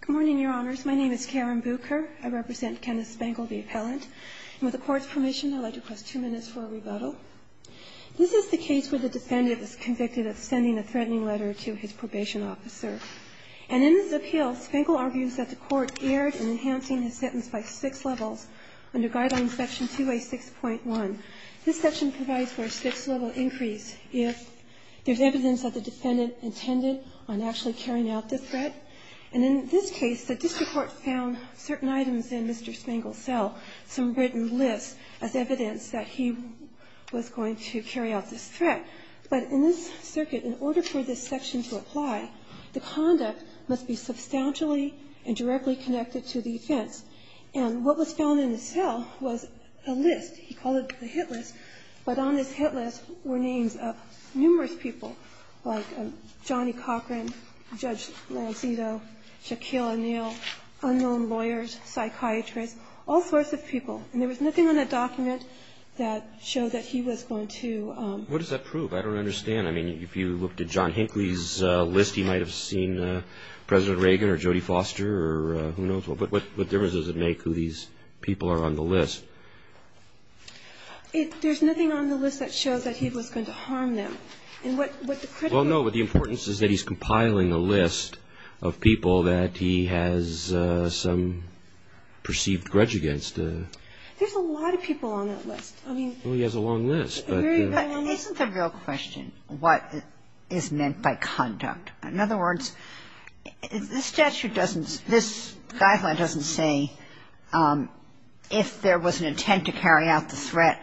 Good morning, Your Honors. My name is Karen Bucher. I represent Kenneth Spangle, the appellant. And with the Court's permission, I'd like to request two minutes for a rebuttal. This is the case where the defendant is convicted of sending a threatening letter to his probation officer. And in his appeal, Spangle argues that the Court erred in enhancing his sentence by six levels under Guideline Section 2A6.1. This section provides for a six-level increase if there's evidence that the defendant intended on actually carrying out the threat. And in this case, the district court found certain items in Mr. Spangle's cell, some written lists, as evidence that he was going to carry out this threat. But in this circuit, in order for this section to apply, the conduct must be substantially and directly connected to the offense. And what was found in the cell was a list. He called it the hit list. But on this hit list were names of numerous people, like Johnny Cochran, Judge Lanzito, Shaquille O'Neal, unknown lawyers, psychiatrists, all sorts of people. And there was nothing on the document that showed that he was going to ---- What does that prove? I don't understand. I mean, if you looked at John Hinckley's list, he might have seen President Reagan or Jody Foster or who knows what. But what difference does it make who these people are on the list? There's nothing on the list that shows that he was going to harm them. And what the critical ---- Well, no. But the importance is that he's compiling a list of people that he has some perceived grudge against. There's a lot of people on that list. I mean ---- Well, he has a long list. But isn't the real question what is meant by conduct. In other words, this statute doesn't ---- this guideline doesn't say if there was an intent to carry out the threat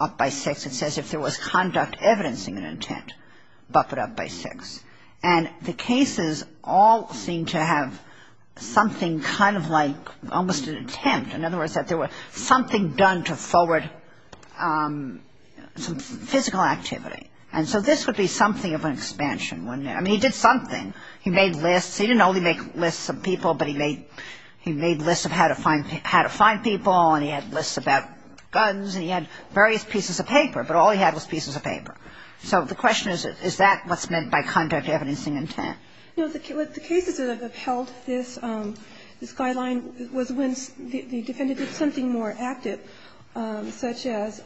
up by six. It says if there was conduct evidencing an intent, buff it up by six. And the cases all seem to have something kind of like almost an attempt. In other words, that there was something done to forward some physical activity. And so this would be something of an expansion, wouldn't it? I mean, he did something. He made lists. He didn't only make lists of people, but he made lists of how to find people, and he had lists about guns, and he had various pieces of paper, but all he had was pieces of paper. So the question is, is that what's meant by conduct evidencing intent? No. The cases that have upheld this guideline was when the defendant did something more active, such as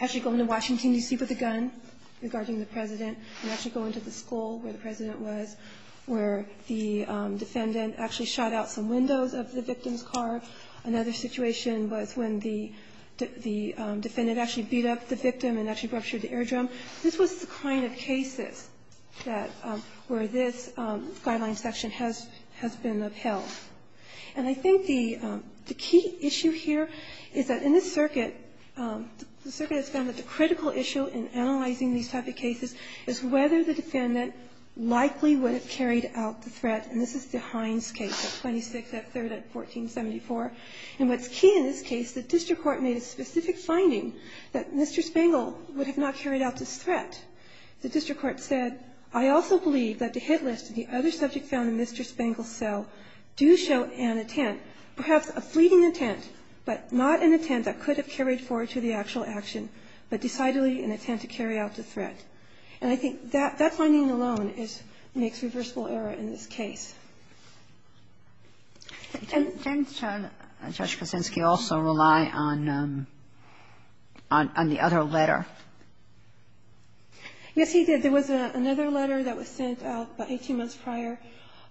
actually going to Washington, D.C. with a gun regarding the President, and actually going to the school where the President was, where the defendant actually shot out some windows of the victim's car. Another situation was when the defendant actually beat up the victim and actually ruptured the air drum. This was the kind of cases that ---- where this guideline section has been upheld. And I think the key issue here is that in this circuit, the circuit has found that the critical issue in analyzing these type of cases is whether the defendant likely would have carried out the threat, and this is the Hines case at 26th at 3rd at 1474. And what's key in this case, the district court made a specific finding that Mr. Spangl would have not carried out this threat. The district court said, I also believe that the hit list and the other subject found in Mr. Spangl's cell do show an intent, perhaps a fleeting intent, but not an intent that could have carried forward to the actual action, but decidedly an intent to carry out the threat. And I think that finding alone is ---- makes reversible error in this case. And ---- And does Judge Kosinski also rely on the other letter? Yes, he did. There was another letter that was sent out about 18 months prior,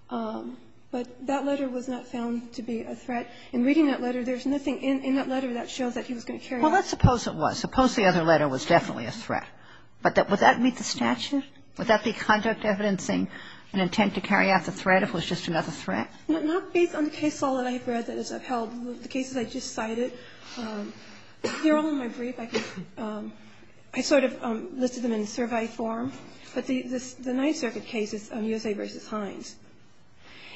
but that letter was not found to be a threat. In reading that letter, there's nothing in that letter that shows that he was going to carry out the threat. Well, let's suppose it was. Suppose the other letter was definitely a threat. But would that meet the statute? Would that be conduct evidencing an intent to carry out the threat if it was just another threat? Well, not based on the case law that I have read that is upheld. The cases I just cited, they're all in my brief. I sort of listed them in survey form. But the Ninth Circuit case is USA v. Hines.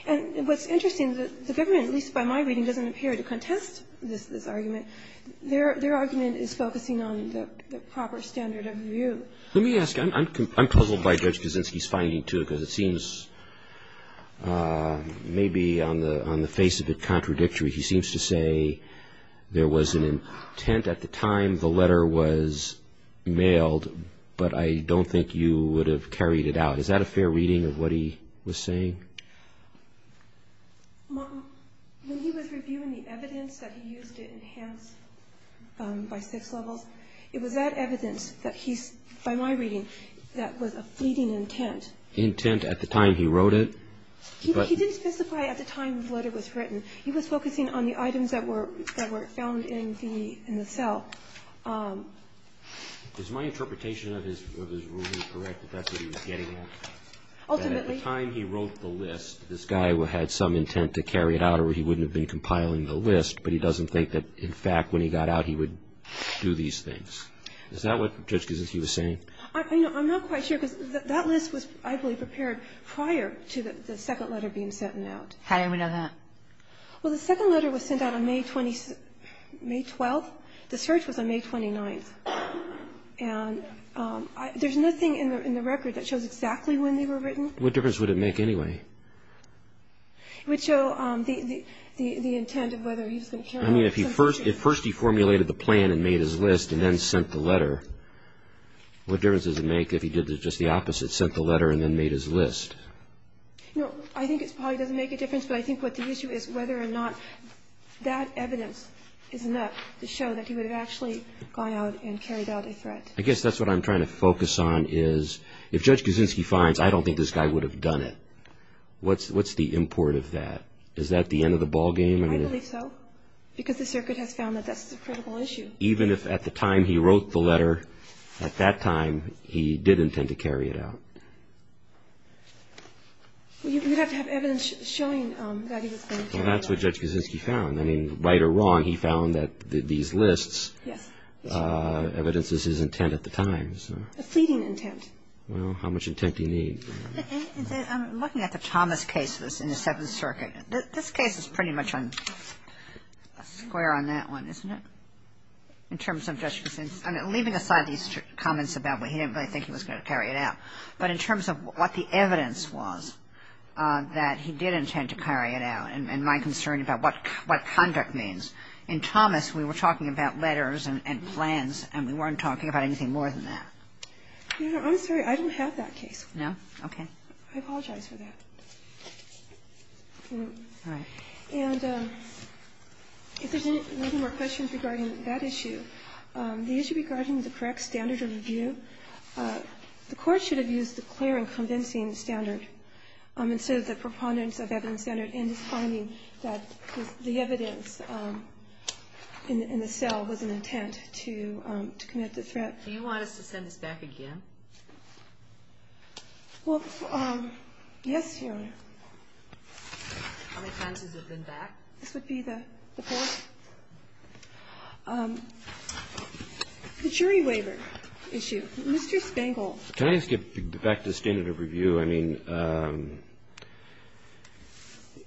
And what's interesting is that the government, at least by my reading, doesn't appear to contest this argument. Their argument is focusing on the proper standard of review. Let me ask you. I'm puzzled by Judge Kosinski's finding, too, because it seems maybe on the face of it contradictory. He seems to say there was an intent at the time the letter was mailed, but I don't think you would have carried it out. Is that a fair reading of what he was saying? When he was reviewing the evidence that he used to enhance by six levels, it was that evidence that he's, by my reading, that was a fleeting intent. Intent at the time he wrote it? He didn't specify at the time the letter was written. He was focusing on the items that were found in the cell. Is my interpretation of his ruling correct that that's what he was getting at? Ultimately. At the time he wrote the list, this guy had some intent to carry it out or he wouldn't have been compiling the list, but he doesn't think that in fact when he got out he would do these things. Is that what Judge Kosinski was saying? I'm not quite sure, because that list was, I believe, prepared prior to the second letter being sent out. How do we know that? Well, the second letter was sent out on May 12th. The search was on May 29th. And there's nothing in the record that shows exactly when they were written. What difference would it make anyway? It would show the intent of whether he was going to carry out something. I mean, if first he formulated the plan and made his list and then sent the letter, what difference does it make if he did just the opposite, sent the letter and then made his list? No, I think it probably doesn't make a difference, but I think what the issue is whether or not that evidence is enough to show that he would have actually gone out and carried out a threat. I guess that's what I'm trying to focus on is if Judge Kosinski finds, I don't think this guy would have done it. What's the import of that? Is that the end of the ballgame? I believe so, because the circuit has found that that's the critical issue. Even if at the time he wrote the letter, at that time, he did intend to carry it out? Well, you'd have to have evidence showing that he was going to carry it out. Well, that's what Judge Kosinski found. I mean, right or wrong, he found that these lists evidences his intent at the time. A fleeting intent. Well, how much intent do you need? I'm looking at the Thomas cases in the Seventh Circuit. This case is pretty much on a square on that one, isn't it, in terms of Judge Kosinski? I mean, leaving aside these comments about why he didn't really think he was going to carry it out, but in terms of what the evidence was that he did intend to carry it out and my concern about what conduct means, in Thomas, we were talking about letters and plans, and we weren't talking about anything more than that. I'm sorry. I don't have that case. No? Okay. I apologize for that. All right. And if there's any more questions regarding that issue, the issue regarding the correct standard of review, the Court should have used the clear and convincing standard instead of the preponderance of evidence standard in his finding that the evidence in the cell was an intent to commit the threat. Do you want us to send this back again? Well, yes, Your Honor. How many times has it been back? This would be the fourth. The jury waiver issue. Mr. Spangol. Can I just get back to the standard of review? I mean,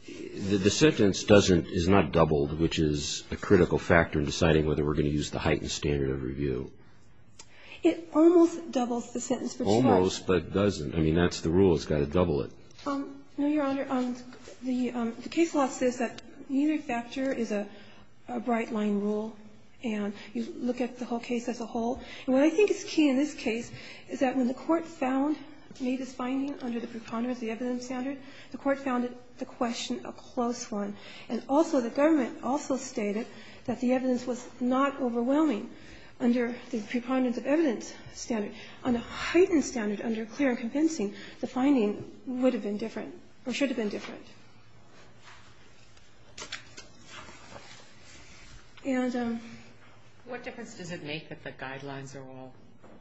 the sentence is not doubled, which is a critical factor in deciding whether we're going to use the heightened standard of review. It almost doubles the sentence. Almost, but it doesn't. I mean, that's the rule. It's got to double it. No, Your Honor. The case law says that neither factor is a bright-line rule, and you look at the whole case as a whole. And what I think is key in this case is that when the Court found Meade's finding under the preponderance of the evidence standard, the Court found the question a close one. And also, the government also stated that the evidence was not overwhelming under the preponderance of evidence standard. On a heightened standard, under clear and convincing, the finding would have been different, or should have been different. What difference does it make that the guidelines are all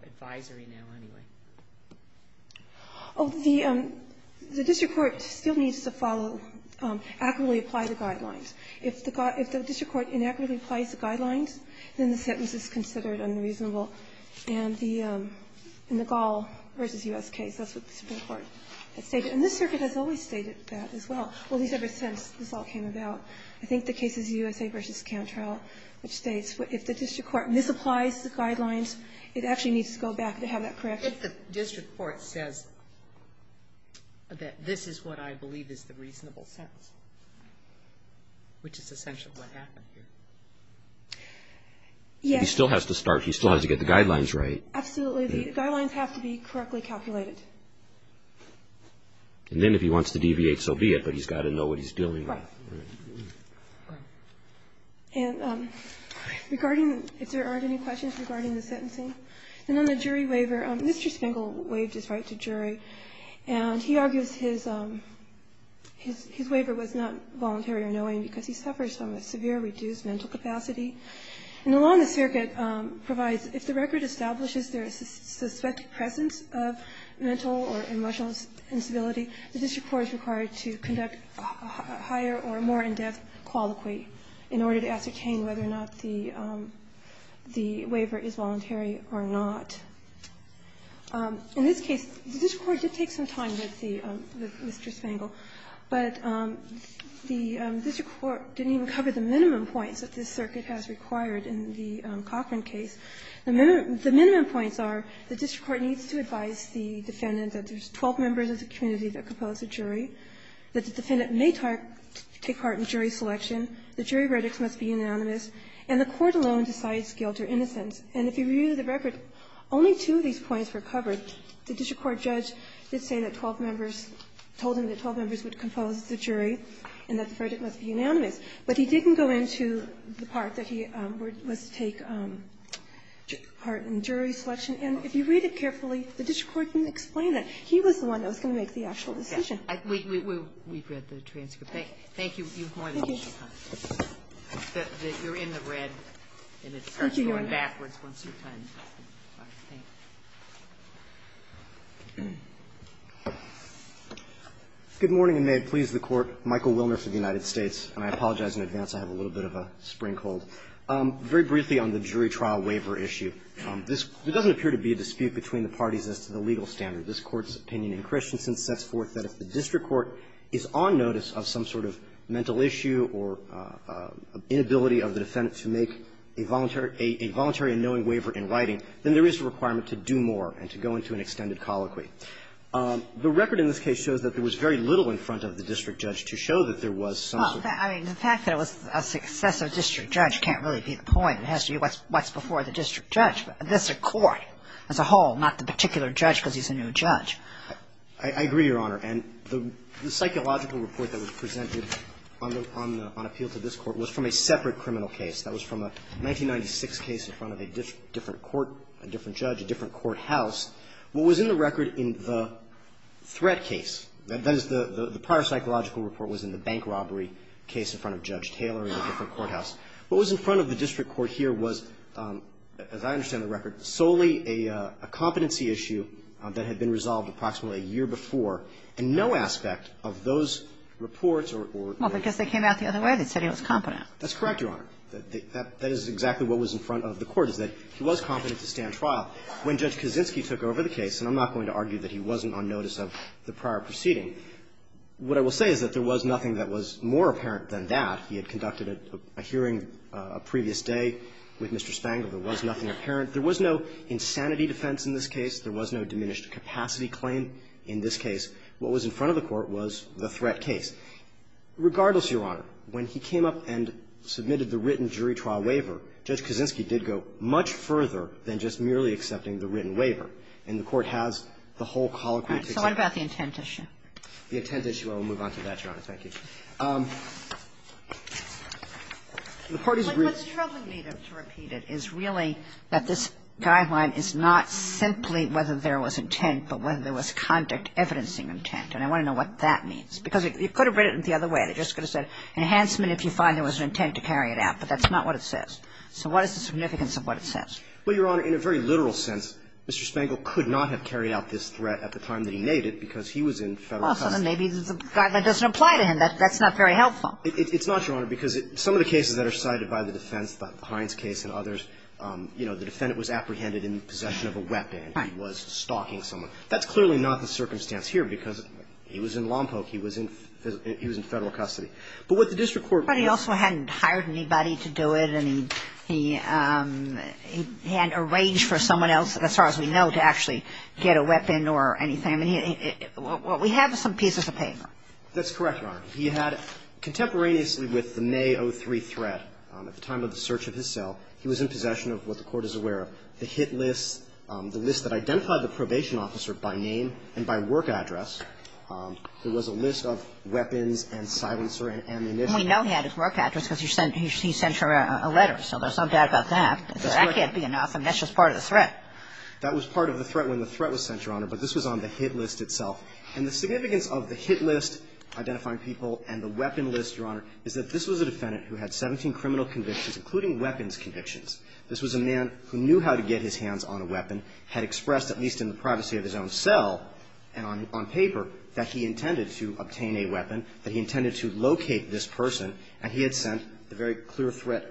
advisory now, anyway? Oh, the district court still needs to follow, accurately apply the guidelines. If the district court inaccurately applies the guidelines, then the sentence is considered unreasonable. And the Gall v. U.S. case, that's what the Supreme Court had stated. And this Circuit has always stated that as well. Well, at least ever since this all came about. I think the case is USA v. Cantrell, which states if the district court misapplies the guidelines, it actually needs to go back to have that correction. If the district court says that this is what I believe is the reasonable sentence, which is essentially what happened here. Yes. He still has to start. He still has to get the guidelines right. Absolutely. The guidelines have to be correctly calculated. And then if he wants to deviate, so be it. But he's got to know what he's dealing with. Right. And regarding, if there aren't any questions regarding the sentencing. And then the jury waiver. Mr. Spengel waived his right to jury. And he argues his waiver was not voluntary or knowing because he suffers from a severe reduced mental capacity. And the law in the Circuit provides if the record establishes there is a suspected presence of mental or emotional instability, the district court is required to conduct a higher or more in-depth colloquy in order to ascertain whether or not the waiver is voluntary or not. In this case, the district court did take some time with Mr. Spengel, but the district court didn't even cover the minimum points that this Circuit has required in the Cochran case. The minimum points are the district court needs to advise the defendant that there is 12 members of the community that propose a jury, that the defendant may take part in jury selection. The jury verdicts must be unanimous. And the court alone decides guilt or innocence. And if you read the record, only two of these points were covered. The district court judge did say that 12 members, told him that 12 members would compose the jury and that the verdict must be unanimous. But he didn't go into the part that he was to take part in jury selection. And if you read it carefully, the district court didn't explain that. He was the one that was going to make the actual decision. We've read the transcript. Thank you. You've more than enough time. You're in the red, and it starts going backwards once you turn. All right. Thank you. Good morning, and may it please the Court. Michael Wilner for the United States. And I apologize in advance. I have a little bit of a spring cold. Very briefly on the jury trial waiver issue. There doesn't appear to be a dispute between the parties as to the legal standard. This Court's opinion in Christensen sets forth that if the district court is on notice of some sort of mental issue or inability of the defendant to make a voluntary and knowing waiver in writing, then there is a requirement to do more and to go into an extended colloquy. The record in this case shows that there was very little in front of the district judge to show that there was some sort of. Well, I mean, the fact that it was a successive district judge can't really be the point. It has to be what's before the district judge. That's a court as a whole, not the particular judge because he's a new judge. I agree, Your Honor. And the psychological report that was presented on appeal to this Court was from a separate criminal case. That was from a 1996 case in front of a different court, a different judge, a different courthouse. What was in the record in the threat case, that is, the prior psychological report was in the bank robbery case in front of Judge Taylor in a different courthouse. What was in front of the district court here was, as I understand the record, solely a competency issue that had been resolved approximately a year before, and no aspect of those reports or the others. Well, because they came out the other way. They said he was competent. That's correct, Your Honor. That is exactly what was in front of the court, is that he was competent to stand trial. When Judge Kaczynski took over the case, and I'm not going to argue that he wasn't on notice of the prior proceeding, what I will say is that there was nothing that was more apparent than that. He had conducted a hearing a previous day with Mr. Spangler. There was nothing apparent. There was no insanity defense in this case. There was no diminished capacity claim in this case. What was in front of the court was the threat case. Regardless, Your Honor, when he came up and submitted the written jury trial waiver, Judge Kaczynski did go much further than just merely accepting the written waiver. And the Court has the whole colloquy. So what about the intent issue? The intent issue. Well, we'll move on to that, Your Honor. Thank you. The Court is ready. But what's troubling me, to repeat it, is really that this guideline is not simply whether there was intent, but whether there was conduct, evidencing intent. And I want to know what that means, because you could have read it the other way. They just could have said enhancement if you find there was an intent to carry it out. But that's not what it says. So what is the significance of what it says? Well, Your Honor, in a very literal sense, Mr. Spangler could not have carried out this threat at the time that he made it because he was in Federal custody. Well, maybe the guideline doesn't apply to him. That's not very helpful. It's not, Your Honor, because some of the cases that are cited by the defense, the Pines case and others, you know, the defendant was apprehended in possession of a weapon. Right. He was stalking someone. That's clearly not the circumstance here, because he was in Lompoc. He was in Federal custody. But what the district court was saying is that he was in Federal custody. But he also hadn't hired anybody to do it, and he hadn't arranged for someone else, as far as we know, to actually get a weapon or anything. I mean, we have some pieces of paper. That's correct, Your Honor. He had contemporaneously with the May 03 threat at the time of the search of his cell, he was in possession of what the Court is aware of, the hit list, the list that identified the probation officer by name and by work address. There was a list of weapons and silencer and ammunition. We know he had his work address because he sent her a letter. So there's nothing bad about that. That can't be enough. I mean, that's just part of the threat. That was part of the threat when the threat was sent, Your Honor. But this was on the hit list itself. And the significance of the hit list identifying people and the weapon list, Your Honor, is that this was a defendant who had 17 criminal convictions, including weapons convictions. This was a man who knew how to get his hands on a weapon, had expressed, at least in the privacy of his own cell and on paper, that he intended to obtain a weapon, that he intended to locate this person, and he had sent the very clear threat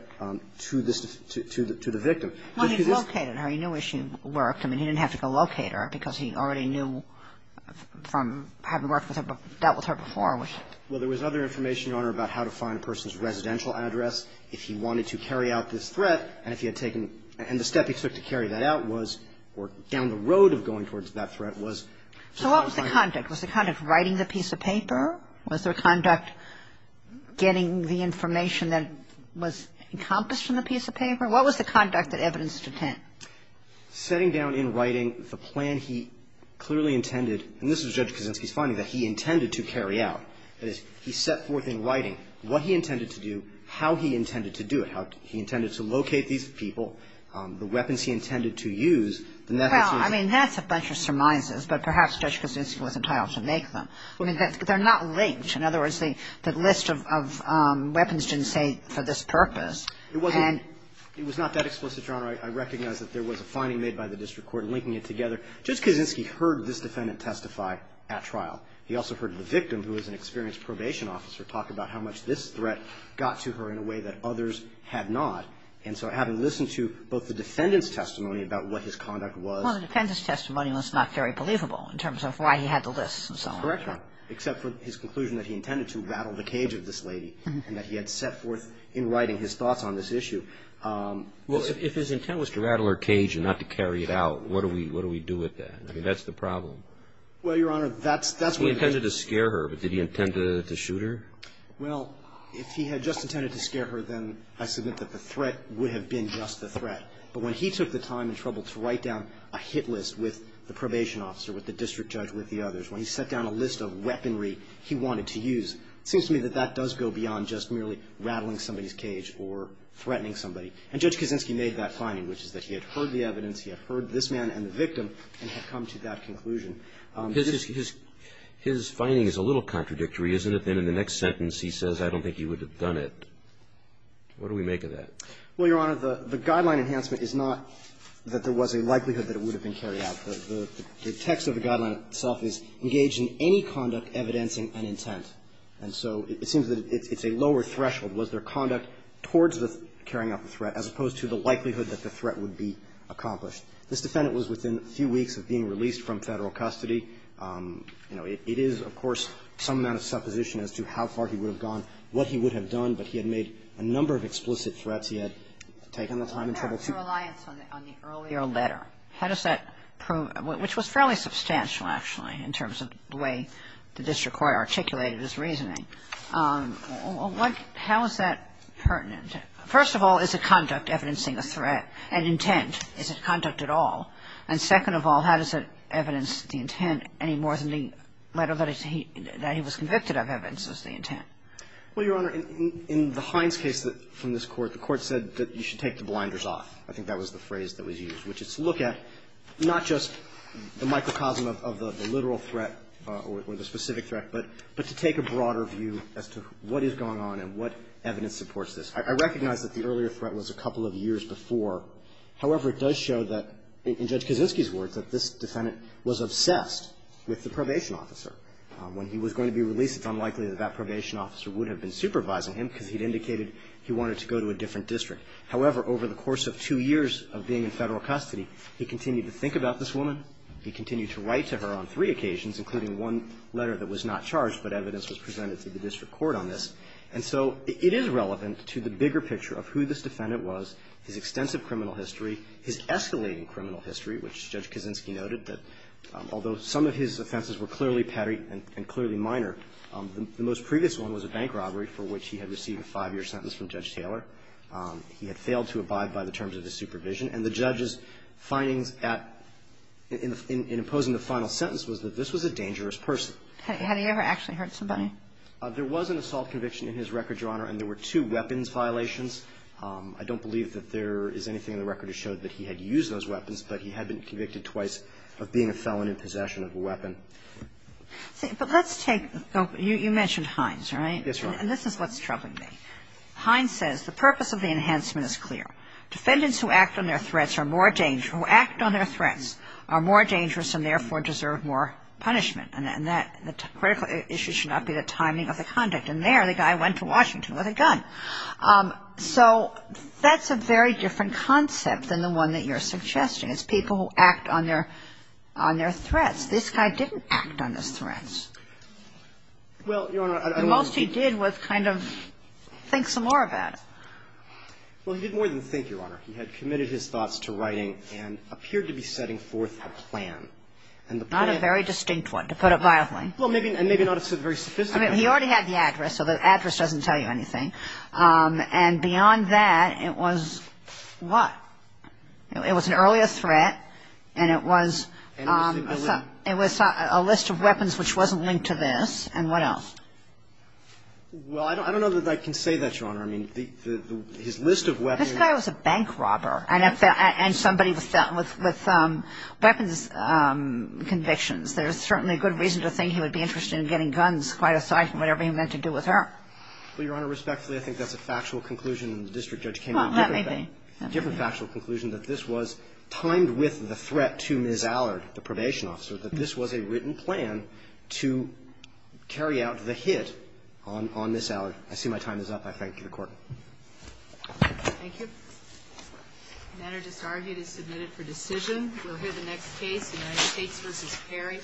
to the victim. When he located her, he knew where she worked. I mean, he didn't have to go locate her because he already knew from having worked with her, dealt with her before. Well, there was other information, Your Honor, about how to find a person's residential address if he wanted to carry out this threat. And if he had taken – and the step he took to carry that out was – or down the road of going towards that threat was to find – So what was the conduct? Was the conduct writing the piece of paper? Was there conduct getting the information that was encompassed in the piece of paper? What was the conduct that evidenced intent? Setting down in writing the plan he clearly intended – and this is Judge Kaczynski's finding – that he intended to carry out. That is, he set forth in writing what he intended to do, how he intended to do it, how he intended to locate these people, the weapons he intended to use, and that actually – Well, I mean, that's a bunch of surmises, but perhaps Judge Kaczynski was entitled to make them. I mean, they're not linked. In other words, the list of weapons didn't say for this purpose. It wasn't – it was not that explicit, Your Honor. I recognize that there was a finding made by the district court linking it together. Judge Kaczynski heard this defendant testify at trial. He also heard the victim, who was an experienced probation officer, talk about how much this threat got to her in a way that others had not. And so having listened to both the defendant's testimony about what his conduct was – Well, the defendant's testimony was not very believable in terms of why he had the list and so on. Correct, Your Honor, except for his conclusion that he intended to rattle the cage of this lady and that he had set forth in writing his thoughts on this issue. Well, if his intent was to rattle her cage and not to carry it out, what do we – what do we do with that? I mean, that's the problem. Well, Your Honor, that's – He intended to scare her, but did he intend to shoot her? Well, if he had just intended to scare her, then I submit that the threat would have been just the threat. But when he took the time and trouble to write down a hit list with the probation officer, with the district judge, with the others, when he set down a list of weaponry he wanted to use, it seems to me that that does go beyond just merely rattling somebody's cage or threatening somebody. And Judge Kaczynski made that finding, which is that he had heard the evidence, he had heard this man and the victim, and had come to that conclusion. His – his finding is a little contradictory, isn't it? Then in the next sentence he says, I don't think he would have done it. What do we make of that? Well, Your Honor, the guideline enhancement is not that there was a likelihood that it would have been carried out. The text of the guideline itself is engaged in any conduct evidencing an intent. And so it seems that it's a lower threshold. Was there conduct towards the carrying out the threat, as opposed to the likelihood that the threat would be accomplished? This defendant was within a few weeks of being released from Federal custody. You know, it is, of course, some amount of supposition as to how far he would have gone, what he would have done. But he had made a number of explicit threats. He had taken the time and trouble to do that. Kagan. But there was no reliance on the earlier letter. How does that prove – which was fairly substantial, actually, in terms of the way the district court articulated his reasoning. What – how is that pertinent? First of all, is the conduct evidencing a threat, an intent? Is it conduct at all? And second of all, how does it evidence the intent any more than the letter that he was convicted of evidences the intent? Well, Your Honor, in the Hines case from this Court, the Court said that you should take the blinders off. I think that was the phrase that was used, which is to look at not just the microcosm of the literal threat or the specific threat, but to take a broader view as to what is going on and what evidence supports this. I recognize that the earlier threat was a couple of years before. However, it does show that, in Judge Kaczynski's words, that this defendant was obsessed with the probation officer. When he was going to be released, it's unlikely that that probation officer would have been supervising him because he'd indicated he wanted to go to a different district. However, over the course of two years of being in Federal custody, he continued to think about this woman. He continued to write to her on three occasions, including one letter that was not charged, but evidence was presented to the district court on this. And so it is relevant to the bigger picture of who this defendant was, his extensive criminal history, his escalating criminal history, which Judge Kaczynski noted that, although some of his offenses were clearly petty and clearly minor, the most previous one was a bank robbery for which he had received a five-year sentence from Judge Taylor. He had failed to abide by the terms of his supervision. And the judge's findings at – in imposing the final sentence was that this was a dangerous person. Had he ever actually hurt somebody? There was an assault conviction in his record, Your Honor, and there were two weapons violations. I don't believe that there is anything in the record that showed that he had used those weapons, but he had been convicted twice of being a felon in possession of a weapon. But let's take – you mentioned Hines, right? Yes, Your Honor. And this is what's troubling me. Hines says the purpose of the enhancement is clear. Defendants who act on their threats are more dangerous – who act on their threats are more dangerous and, therefore, deserve more punishment. And that – the critical issue should not be the timing of the conduct. And there, the guy went to Washington with a gun. So that's a very different concept than the one that you're suggesting. It's people who act on their – on their threats. This guy didn't act on his threats. Well, Your Honor, I don't think he did. I think he was kind of thinks some more about it. Well, he did more than think, Your Honor. He had committed his thoughts to writing and appeared to be setting forth a plan. And the plan – Not a very distinct one, to put it violently. Well, maybe – and maybe not a very sophisticated one. I mean, he already had the address, so the address doesn't tell you anything. And beyond that, it was what? It was an earlier threat, and it was – And it was – It was a list of weapons which wasn't linked to this. And what else? Well, I don't know that I can say that, Your Honor. I mean, his list of weapons – This guy was a bank robber. And somebody was dealt with weapons convictions. There's certainly good reason to think he would be interested in getting guns, quite aside from whatever he meant to do with her. Well, Your Honor, respectfully, I think that's a factual conclusion, and the district judge came to a different fact – Well, that may be. A different factual conclusion, that this was timed with the threat to Ms. Allard, the probation officer, that this was a written plan to carry out the hit on Ms. Allard. I see my time is up. I thank you, Your Court. Thank you. The matter disargued is submitted for decision. We'll hear the next case, United States v. Perry.